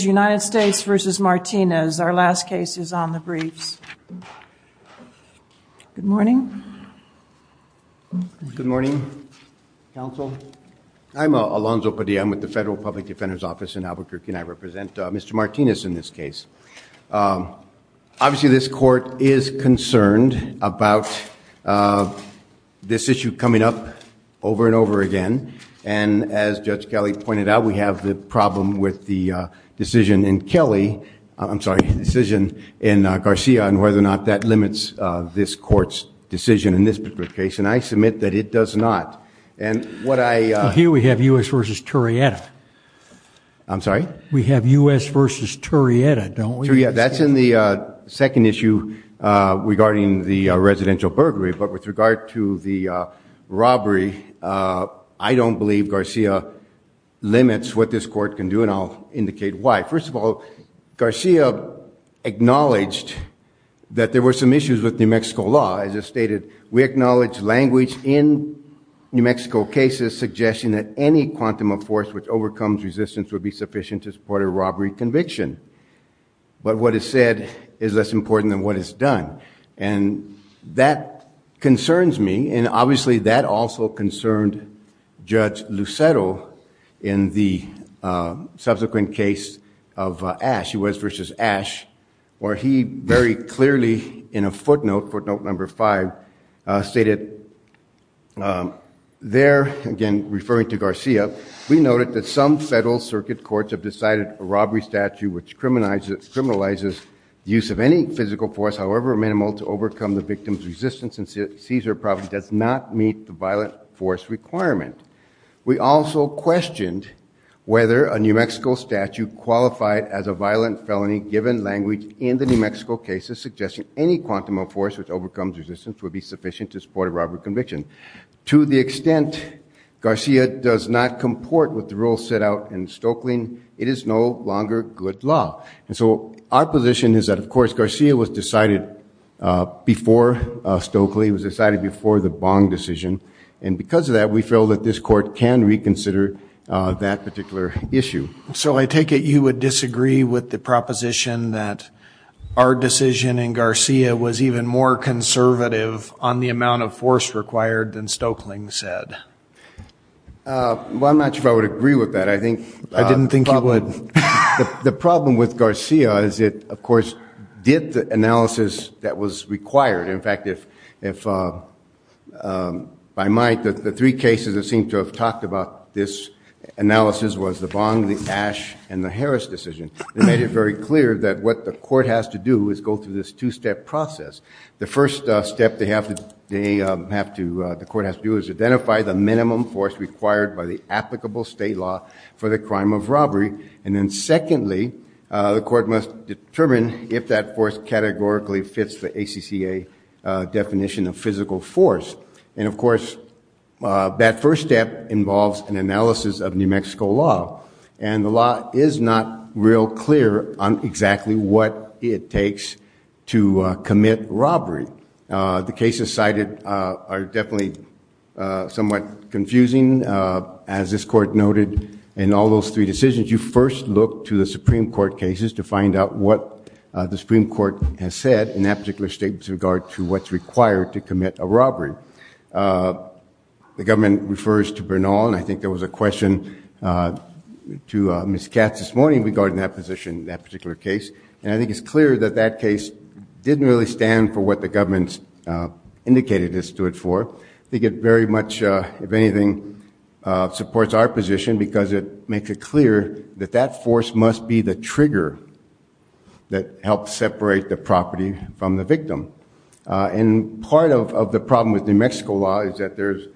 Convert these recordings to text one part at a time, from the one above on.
United States v. Martinez. Our last case is on the briefs. Good morning. Good morning, counsel. I'm Alonzo Padilla. I'm with the Federal Public Defender's Office in Albuquerque and I represent Mr. Martinez in this case. Obviously, this court is concerned about this issue coming up over and over again. And as Judge Kelly pointed out, we have the problem with the decision in Kelly, I'm sorry, decision in Garcia and whether or not that limits this court's decision in this particular case. And I submit that it does not. And what I... Here we have U.S. v. Torrieta. I'm sorry? We have U.S. v. Torrieta, don't we? That's in the second issue regarding the residential burglary. But with regard to the robbery, I don't believe Garcia limits what this court can do and I'll indicate why. First of all, Garcia acknowledged that there were some issues with New Mexico law. As I stated, we acknowledge language in New Mexico cases suggesting that any quantum of force which overcomes resistance would be sufficient to support a robbery conviction. But what is said is less important than what is done. And that concerns me and obviously that also concerned Judge Lucero in the subsequent case of Ash, U.S. v. Ash, where he very clearly in a footnote, footnote number five, stated there, again referring to Garcia, we noted that some use of any physical force, however minimal, to overcome the victim's resistance in Caesar Province does not meet the violent force requirement. We also questioned whether a New Mexico statute qualified as a violent felony given language in the New Mexico cases suggesting any quantum of force which overcomes resistance would be sufficient to support a robbery conviction. To the extent Garcia does not comport with the rules set out in Stokelyn, it is no longer good law. And so our position is that of course Garcia was decided before Stokely, it was decided before the Bong decision. And because of that, we feel that this court can reconsider that particular issue. So I take it you would disagree with the proposition that our decision in Garcia was even more conservative on the amount of force required than Stokeling said? Well, I'm not sure if I would agree with that. I didn't think you would. The problem with Garcia is it, of course, did the analysis that was required. In fact, if by might, the three cases that seem to have talked about this analysis was the Bong, the Ash, and the Harris decision. They made it very clear that what the court has to do is go through this two-step process. The first step the court has to do is identify the minimum force required by applicable state law for the crime of robbery. And then secondly, the court must determine if that force categorically fits the ACCA definition of physical force. And of course, that first step involves an analysis of New Mexico law. And the law is not real clear on exactly what it takes to commit robbery. The cases cited are definitely somewhat confusing. As this court noted, in all those three decisions, you first look to the Supreme Court cases to find out what the Supreme Court has said in that particular state with regard to what's required to commit a robbery. The government refers to Bernal, and I think there was a question to Ms. Katz this didn't really stand for what the government's indicated it stood for. I think it very much, if anything, supports our position because it makes it clear that that force must be the trigger that helps separate the property from the victim. And part of the problem with New Mexico law is that there's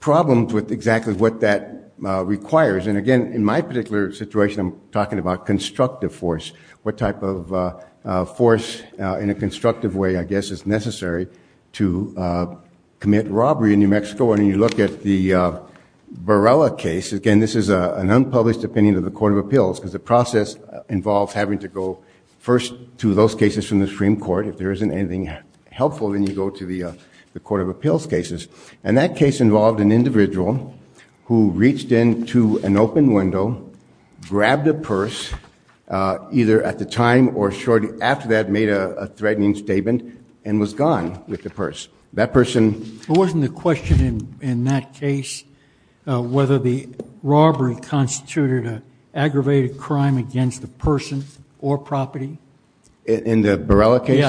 problems with exactly what that requires. And again, in my particular situation, I'm talking about constructive force, what type of force in a constructive way, I guess, is necessary to commit robbery in New Mexico. And when you look at the Borrella case, again, this is an unpublished opinion of the Court of Appeals because the process involves having to go first to those cases from the Supreme Court. If there isn't anything helpful, then you go to the Court of Appeals cases. And that case involved an individual who reached into an open window, grabbed a purse, either at the time or shortly after that made a threatening statement, and was gone with the purse. That person... But wasn't the question in that case, whether the robbery constituted an aggravated crime against the person or property? In the Borrella case?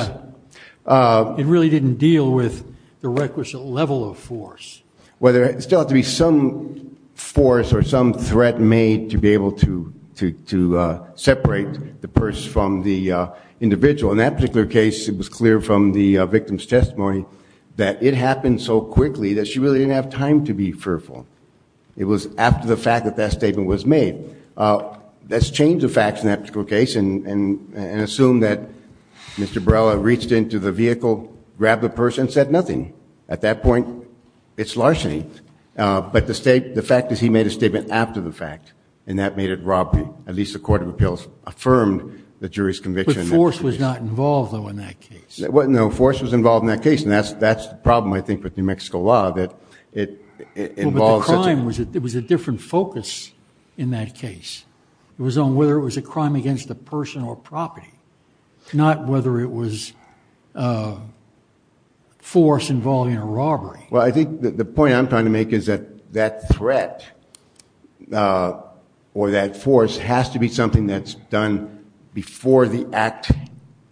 Yeah. It really didn't deal with the requisite level of force. Whether it still had to be some force or some threat made to be able to separate the purse from the individual. In that particular case, it was clear from the victim's testimony that it happened so quickly that she really didn't have time to be fearful. It was after the fact that that statement was made. Let's change the facts in that particular case and assume that Mr. Borrella reached into the vehicle, grabbed the purse, and said nothing. At that point, it's larceny. But the fact is he made a statement after the fact, and that made it robbery. At least the Court of Appeals affirmed the jury's conviction. But force was not involved, though, in that case? No, force was involved in that case. And that's the problem, I think, with New Mexico law, that it involves... But the crime, it was a different focus in that case. It was on whether it was a force involving a robbery. Well, I think the point I'm trying to make is that that threat or that force has to be something that's done before the act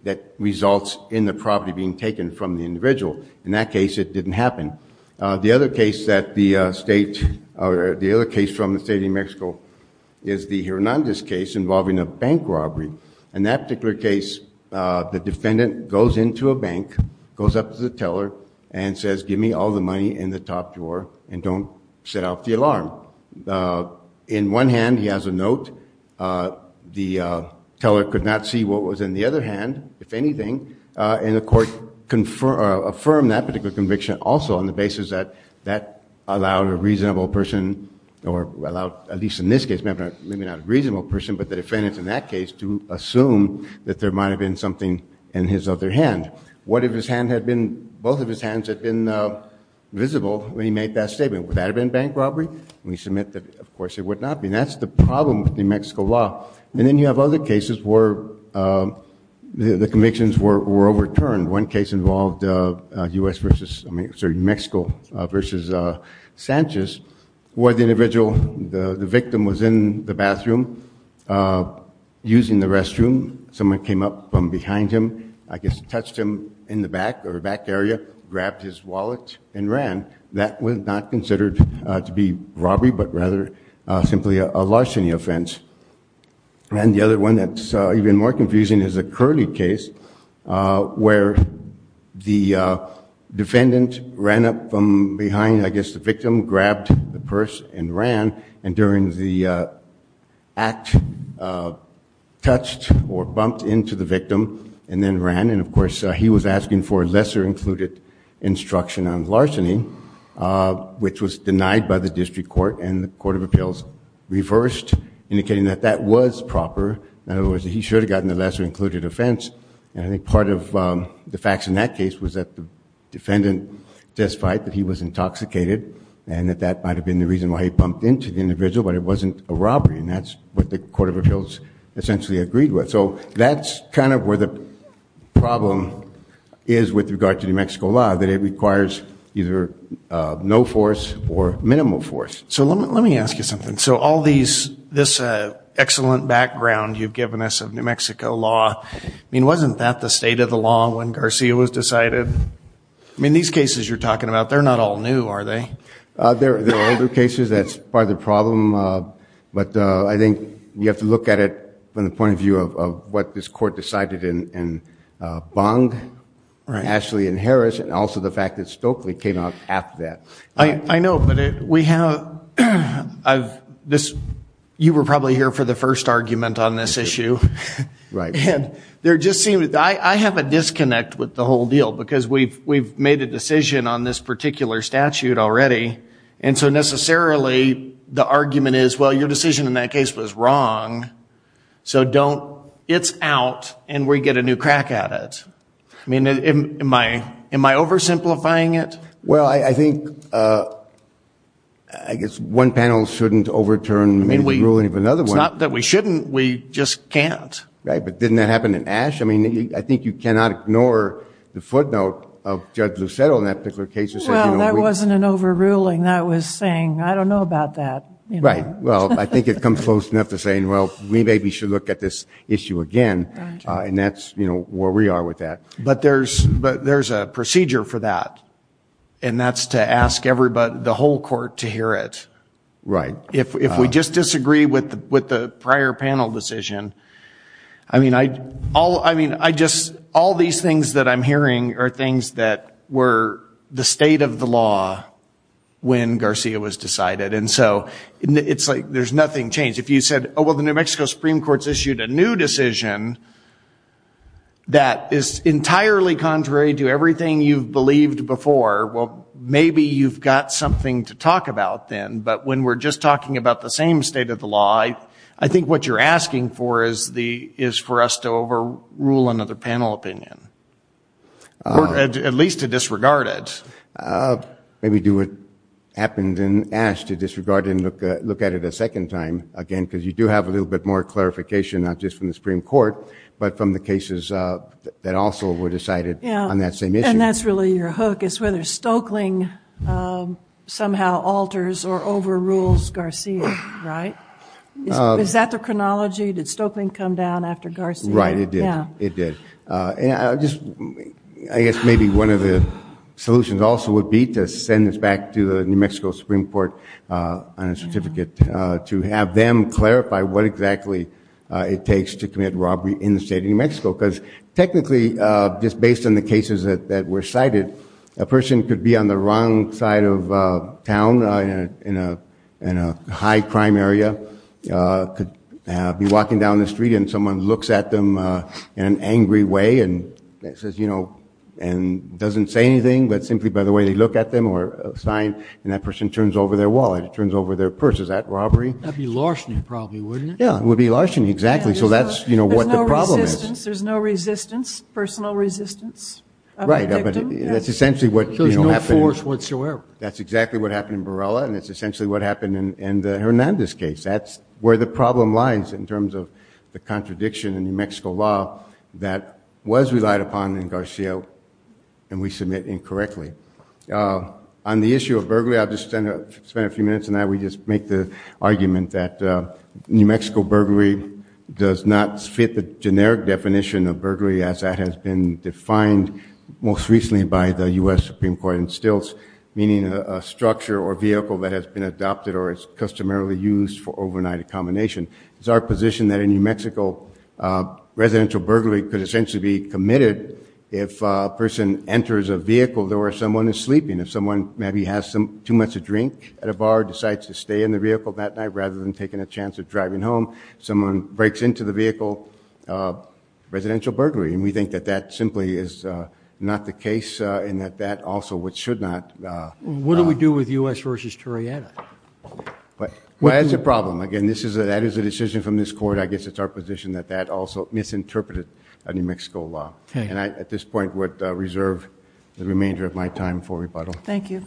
that results in the property being taken from the individual. In that case, it didn't happen. The other case from the State of New Mexico is the Hernandez case involving a bank robbery. In that particular case, the defendant goes into a bank, goes up to the teller, and says, give me all the money in the top drawer and don't set off the alarm. In one hand, he has a note. The teller could not see what was in the other hand, if anything. And the court affirmed that particular conviction also on the basis that that allowed a reasonable person, or allowed, at least in this case, maybe not a reasonable person, but the defendant in that case, to assume that there might have been something in his other hand. What if his hand had been, both of his hands had been visible when he made that statement? Would that have been bank robbery? And we submit that, of course, it would not be. That's the problem with New Mexico law. And then you have other cases where the convictions were overturned. One case involved US versus, I mean, sorry, Mexico versus Sanchez, where the individual, the victim was in the bathroom using the restroom. Someone came up from behind him, I guess touched him in the back or back area, grabbed his wallet and ran. That was not considered to be robbery, but rather simply a larceny offense. And the other that's even more confusing is the Curley case, where the defendant ran up from behind, I guess, the victim, grabbed the purse and ran. And during the act, touched or bumped into the victim and then ran. And of course, he was asking for lesser included instruction on larceny, which was denied by the district court and the court of appeals reversed, indicating that that was proper. In other words, he should have gotten the lesser included offense. And I think part of the facts in that case was that the defendant testified that he was intoxicated and that that might have been the reason why he pumped into the individual, but it wasn't a robbery. And that's what the court of appeals essentially agreed with. So that's kind of where the problem is with regard to New Mexico law, that it requires either no force or minimal force. So let me ask you something. So all these, this excellent background you've given us of New Mexico law, I mean, wasn't that the state of the law when Garcia was decided? I mean, these cases you're talking about, they're not all new, are they? They're older cases. That's part of the problem. But I think you have to look at it from the point of view of what this court decided in Bong, Ashley and Harris, and also the fact that Stokely came out after that. I know, but we have, I've, this, you were probably here for the first argument on this issue. Right. And there just seemed, I have a disconnect with the whole deal because we've made a decision on this particular statute already, and so necessarily the argument is, well, your decision in that case was wrong, so don't, it's out and we get a new crack at it. I mean, am I oversimplifying it? Well, I think, I guess one panel shouldn't overturn the ruling of another one. It's not that we shouldn't, we just can't. Right, but didn't that happen in Ashe? I mean, I think you cannot ignore the footnote of Judge Lucero in that particular case. Well, that wasn't an overruling, that was saying, I don't know about that. Right, well, I think it comes close enough to saying, well, we maybe should look at this issue again, and that's, you know, where we are with that. But there's a procedure for that, and that's to ask everybody, the whole court to hear it. Right. If we just disagree with the prior panel decision, I mean, I just, all these things that I'm hearing are things that were the state of the law when Garcia was decided, and so it's like there's nothing changed. If you said, oh, well, the New Mexico Supreme Court's issued a new decision that is entirely contrary to everything you've believed before, well, maybe you've got something to talk about then, but when we're just talking about the same state of the law, I think what you're asking for is for us to overrule another panel opinion, at least to disregard it. Maybe do what happened in Ashe, to disregard and look at it a second time again, because you do have a little bit more clarification, not just from the Supreme Court, but from the cases that also were decided on that same issue. And that's really your hook, whether Stoeckling somehow alters or overrules Garcia, right? Is that the chronology? Did Stoeckling come down after Garcia? Right, it did. I guess maybe one of the solutions also would be to send this back to the New Mexico Supreme Court on a certificate to have them clarify what exactly it takes to commit robbery in the state of New Mexico, because technically, just based on the person could be on the wrong side of town in a high crime area, could be walking down the street and someone looks at them in an angry way and doesn't say anything, but simply by the way they look at them or sign, and that person turns over their wallet, turns over their purse. Is that robbery? That'd be larceny probably, wouldn't it? Yeah, it would be larceny, exactly. So that's no force whatsoever. That's exactly what happened in Borrella, and it's essentially what happened in the Hernandez case. That's where the problem lies in terms of the contradiction in New Mexico law that was relied upon in Garcia, and we submit incorrectly. On the issue of burglary, I'll just spend a few minutes, and I will just make the argument that New Mexico burglary does not fit the generic definition of burglary as that has been defined most recently by the U.S. Supreme Court in Stilts, meaning a structure or vehicle that has been adopted or is customarily used for overnight accommodation. It's our position that in New Mexico, residential burglary could essentially be committed if a person enters a vehicle door, someone is sleeping. If someone maybe has too much to drink at a bar, decides to stay in the vehicle that night rather than taking a chance driving home, someone breaks into the vehicle, residential burglary. And we think that that simply is not the case, and that that also should not... What do we do with U.S. versus Torreada? Well, that's a problem. Again, that is a decision from this court. I guess it's our position that that also misinterpreted New Mexico law. And I, at this point, would reserve the remainder of my time for rebuttal. Thank you.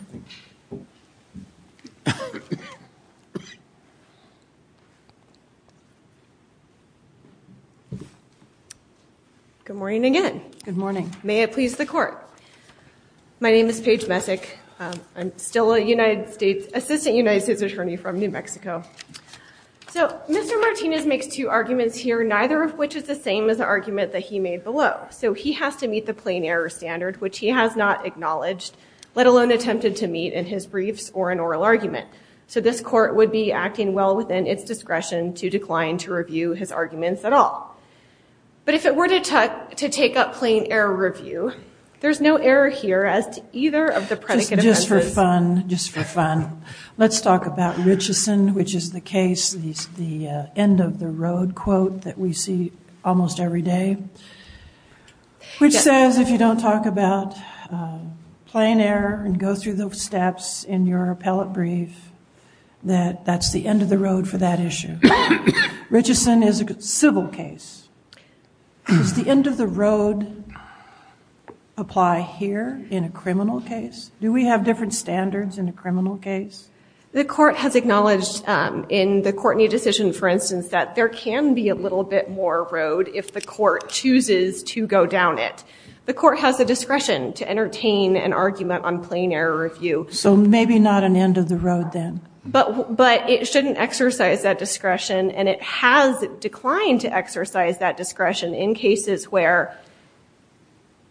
Good morning again. Good morning. May it please the court. My name is Paige Messick. I'm still a United States... Assistant United States Attorney from New Mexico. So Mr. Martinez makes two arguments here, neither of which is the same as the argument that he made below. So he has to meet the plain error standard, which he has not acknowledged, let alone attempted to meet in his briefs or an oral argument. So this court would be acting well within its discretion to decline to review his arguments at all. But if it were to take up plain error review, there's no error here as to either of the predicate offenses. Just for fun, just for fun, let's talk about Richeson, which is the case, the end of the road quote that we see almost every day, which says, if you don't talk about plain error and go through the steps in your appellate brief, that that's the end of the road for that issue. Richeson is a civil case. Does the end of the road apply here in a criminal case? Do we have different standards in a criminal case? The court has acknowledged in the Courtney decision, for instance, that there can be a little bit more road if the court chooses to go down it. The court has the discretion to entertain an argument on plain error review. So maybe not an end of the road then. But it shouldn't exercise that discretion, and it has declined to exercise that discretion in cases where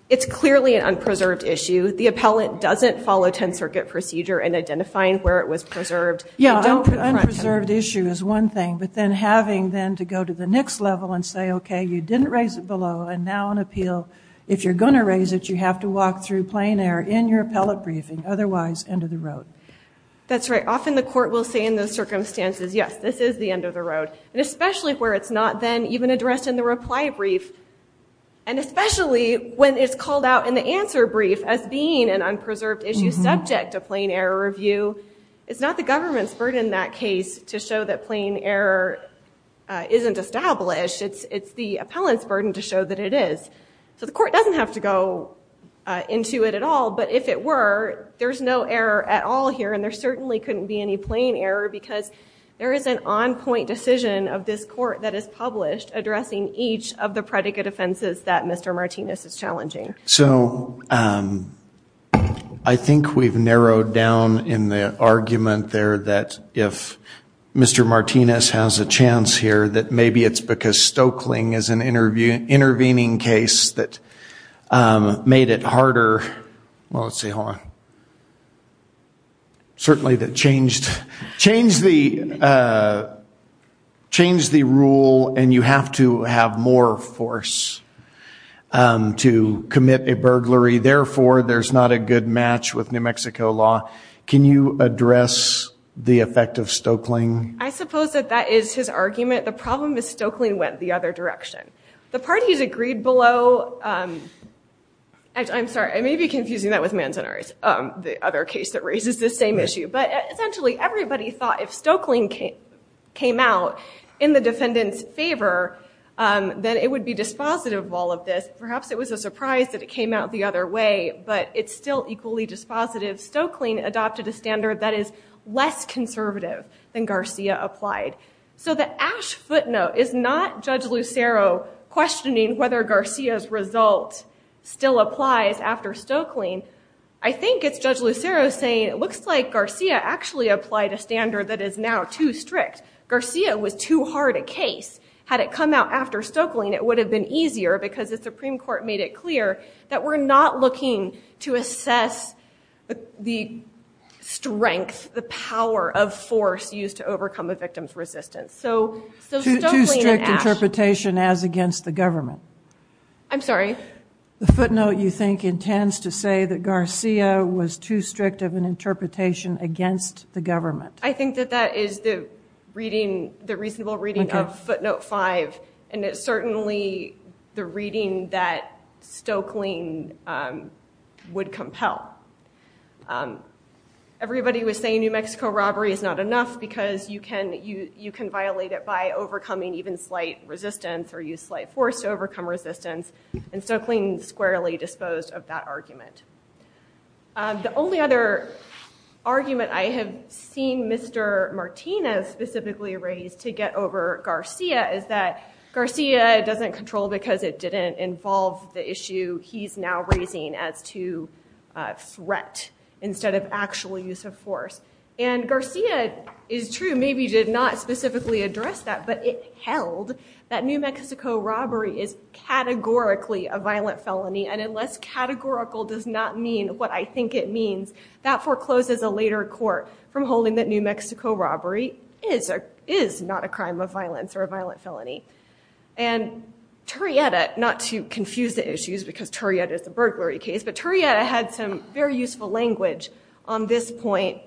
it's clearly an unpreserved issue. The appellate doesn't follow 10th Circuit procedure in identifying where it was preserved. Yeah, unpreserved issue is one thing, but then having then to go to the next level and say, okay, you didn't raise it below, and now on appeal, if you're going to raise it, you have to walk through plain error in your appellate briefing, otherwise, end of the road. That's right. Often the court will say in those circumstances, yes, this is the end of the road, and especially where it's not then even addressed in the reply brief, and especially when it's called out in the answer brief as being an unpreserved issue subject to plain error review. It's not the government's burden in that case to show that plain error isn't established. It's the appellant's burden to show that it is. So the court doesn't have to go into it at all, but if it were, there's no error at all here, and there certainly couldn't be any error because there is an on-point decision of this court that is published addressing each of the predicate offenses that Mr. Martinez is challenging. So I think we've narrowed down in the argument there that if Mr. Martinez has a chance here, that maybe it's because Stokeling is an intervening case that made it harder. Well, let's see. Hold on. Certainly that changed the rule, and you have to have more force to commit a burglary. Therefore, there's not a good match with New Mexico law. Can you address the effect of Stokeling? I suppose that that is his argument. The problem is Stokeling went the other direction. The parties agreed below. I'm sorry. I may be But essentially, everybody thought if Stokeling came out in the defendant's favor, then it would be dispositive of all of this. Perhaps it was a surprise that it came out the other way, but it's still equally dispositive. Stokeling adopted a standard that is less conservative than Garcia applied. So the ash footnote is not Judge Lucero questioning whether Garcia's result still applies after Stokeling. I think it's Judge Lucero saying it looks like Garcia actually applied a standard that is now too strict. Garcia was too hard a case. Had it come out after Stokeling, it would have been easier because the Supreme Court made it clear that we're not looking to assess the strength, the power of force used to overcome a victim's government. I'm sorry. The footnote, you think, intends to say that Garcia was too strict of an interpretation against the government. I think that that is the reading, the reasonable reading of footnote five, and it's certainly the reading that Stokeling would compel. Everybody was saying New Mexico robbery is not enough because you can violate it by force to overcome resistance, and Stokeling squarely disposed of that argument. The only other argument I have seen Mr. Martinez specifically raise to get over Garcia is that Garcia doesn't control because it didn't involve the issue he's now raising as to threat instead of actual use of force. And Garcia is true, maybe did not specifically address that, but it held that New Mexico robbery is categorically a violent felony, and unless categorical does not mean what I think it means, that forecloses a later court from holding that New Mexico robbery is not a crime of violence or a violent felony. And Turrieta, not to confuse the issues because Turrieta is a burglary case, but Turrieta had some very useful language on this point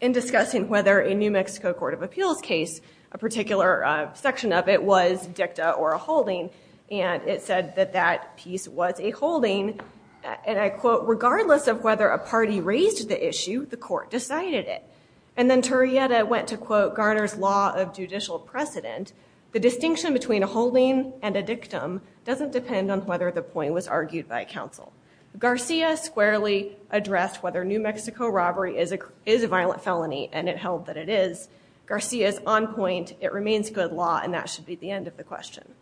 in discussing whether a New Mexico court of appeals case, a particular section of it was dicta or a holding, and it said that that piece was a holding, and I quote, regardless of whether a party raised the issue, the court decided it. And then Turrieta went to quote Garner's law of judicial precedent, the distinction between a holding and a dictum doesn't depend on whether the point was argued by counsel. Garcia squarely addressed whether New Mexico robbery is a violent felony, and it held that it is. Garcia's on point, it remains good law, and that should be the end of the question.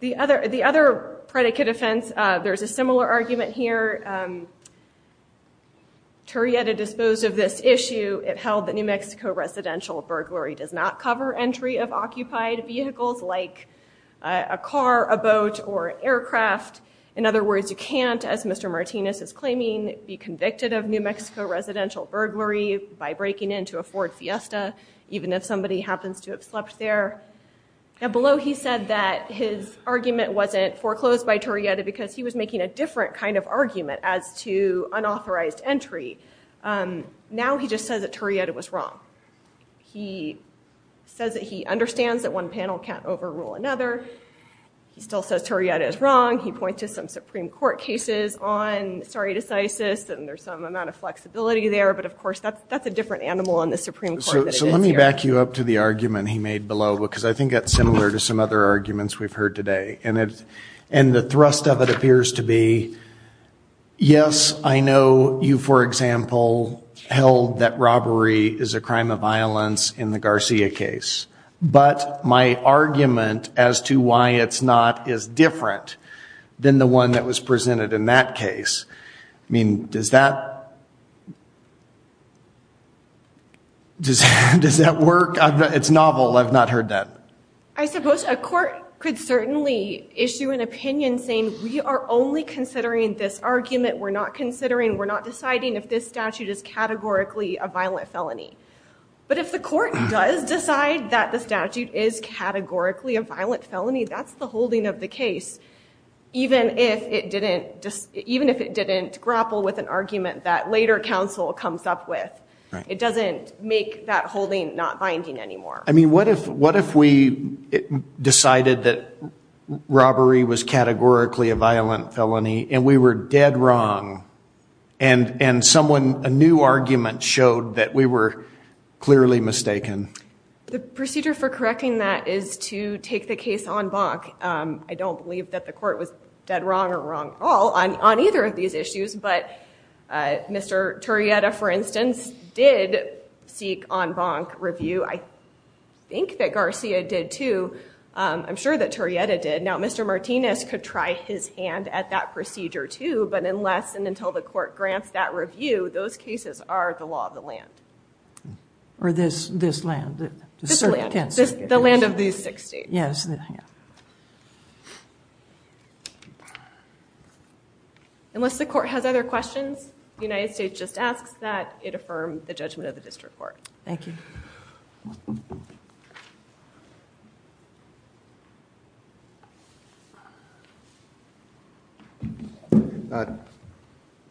The other predicate offense, there's a similar argument here. Turrieta disposed of this issue, it held that New Mexico residential burglary does not cover entry of occupied vehicles like a car, a boat, or an aircraft. In other words, you can't, as Mr. Martinez is claiming, be convicted of New Mexico residential burglary by breaking into a Ford Fiesta, even if somebody happens to have slept there. Now below he said that his argument wasn't foreclosed by Turrieta because he was making a different kind of argument as to unauthorized entry. Now he just says that Turrieta was wrong. He says that he understands that one panel can't overrule another, he still says Turrieta is wrong, he points to some Supreme Court cases on sorry to say-sis, and there's some amount of flexibility there, but of course that's a different animal on the Supreme Court. So let me back you up to the argument he made below, because I think that's similar to some other arguments we've heard today, and the thrust of it appears to be, yes, I know you, for example, held that robbery is a crime of violence in the Garcia case, but my argument as to why it's not is different than the one that was presented in that case. I mean, does that, does that work? It's novel, I've not heard that. I suppose a court could certainly issue an opinion saying we are only considering this argument, we're not considering, we're not deciding if this statute is categorically a violent felony, but if the court does decide that the statute is categorically a violent felony, that's the holding of the case, even if it didn't just, even if it didn't grapple with an argument that later counsel comes up with. It doesn't make that holding not binding anymore. I mean, what if, what if we decided that robbery was categorically a violent felony and we were dead wrong and, and someone, a new argument showed that we were clearly mistaken? The procedure for correcting that is to take the case en banc. I don't believe that the court was dead wrong or wrong at all on either of these issues, but Mr. Turrieta, for instance, did seek en banc review. I think that Garcia did too. I'm sure that Turrieta did. Now, Mr. Martinez could try his hand at that procedure too, but unless and until the court grants that review, those cases are the law of the land. Or this, this land. The land of these six states. Yes. Unless the court has other questions, the United States just asks that it affirm the judgment of the district court. Thank you.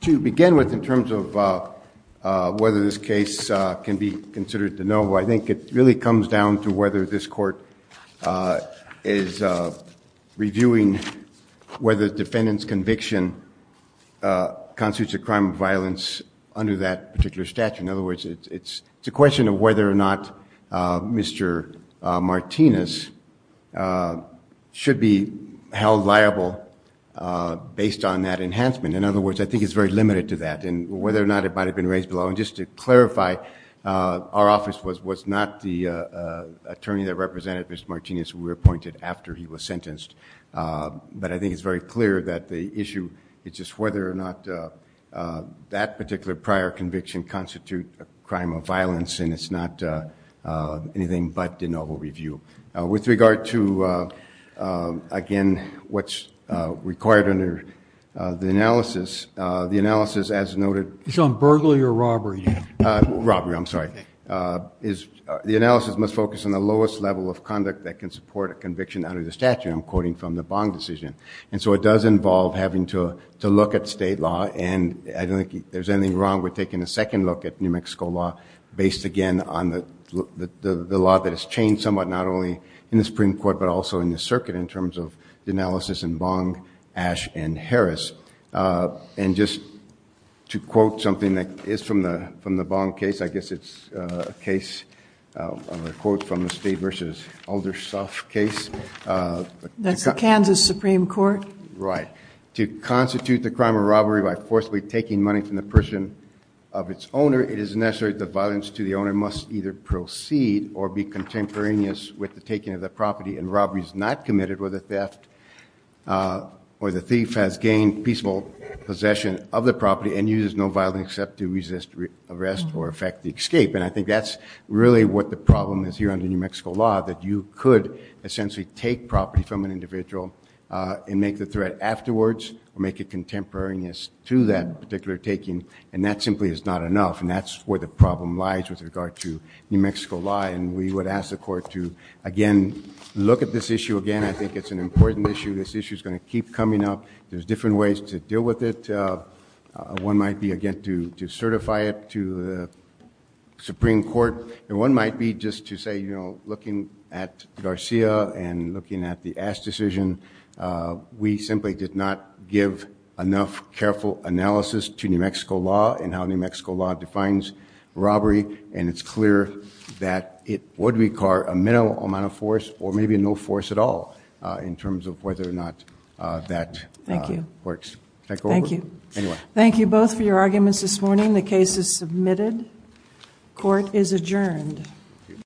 To begin with, in terms of whether this case can be considered de novo, I think it really comes down to whether this court is reviewing whether the defendant's conviction constitutes a crime of violence under that particular statute. In other words, it's, it's a question of whether or not Mr. Martinez should be held liable based on that enhancement. In other words, I think it's very limited to that and whether or not it might've been raised below. And just to clarify, our office was, was not the attorney that represented Mr. Martinez who we appointed after he was sentenced. But I think it's very clear that the issue is just whether or not that particular prior conviction constitute a crime of violence and it's not anything but de novo review. With regard to again, what's required under the analysis, the analysis as robbery, I'm sorry, is the analysis must focus on the lowest level of conduct that can support a conviction under the statute I'm quoting from the bond decision. And so it does involve having to, to look at state law and I don't think there's anything wrong with taking a second look at New Mexico law based again on the, the, the, the law that has changed somewhat, not only in the Supreme court, but also in the circuit in terms of the analysis and bond Ash and Harris. And just to quote something that is from the, from the bond case, I guess it's a case of a quote from the state versus Aldersoft case. That's the Kansas Supreme court, right? To constitute the crime of robbery by forcibly taking money from the person of its owner, it is necessary. The violence to the owner must either proceed or be contemporaneous with the property and robberies not committed with a theft or the thief has gained peaceful possession of the property and uses no violence except to resist arrest or affect the escape. And I think that's really what the problem is here under New Mexico law, that you could essentially take property from an individual and make the threat afterwards or make it contemporaneous to that particular taking. And that simply is not enough. And that's where the problem lies with regard to New Mexico law. And we would ask the court to again, look at this issue again. I think it's an important issue. This issue is going to keep coming up. There's different ways to deal with it. One might be again, to certify it to the Supreme court. And one might be just to say, you know, looking at Garcia and looking at the Ash decision we simply did not give enough careful analysis to New Mexico law defines robbery. And it's clear that it would require a minimal amount of force or maybe no force at all in terms of whether or not that works. Thank you. Thank you. Thank you both for your arguments this morning. The case is submitted. Court is adjourned.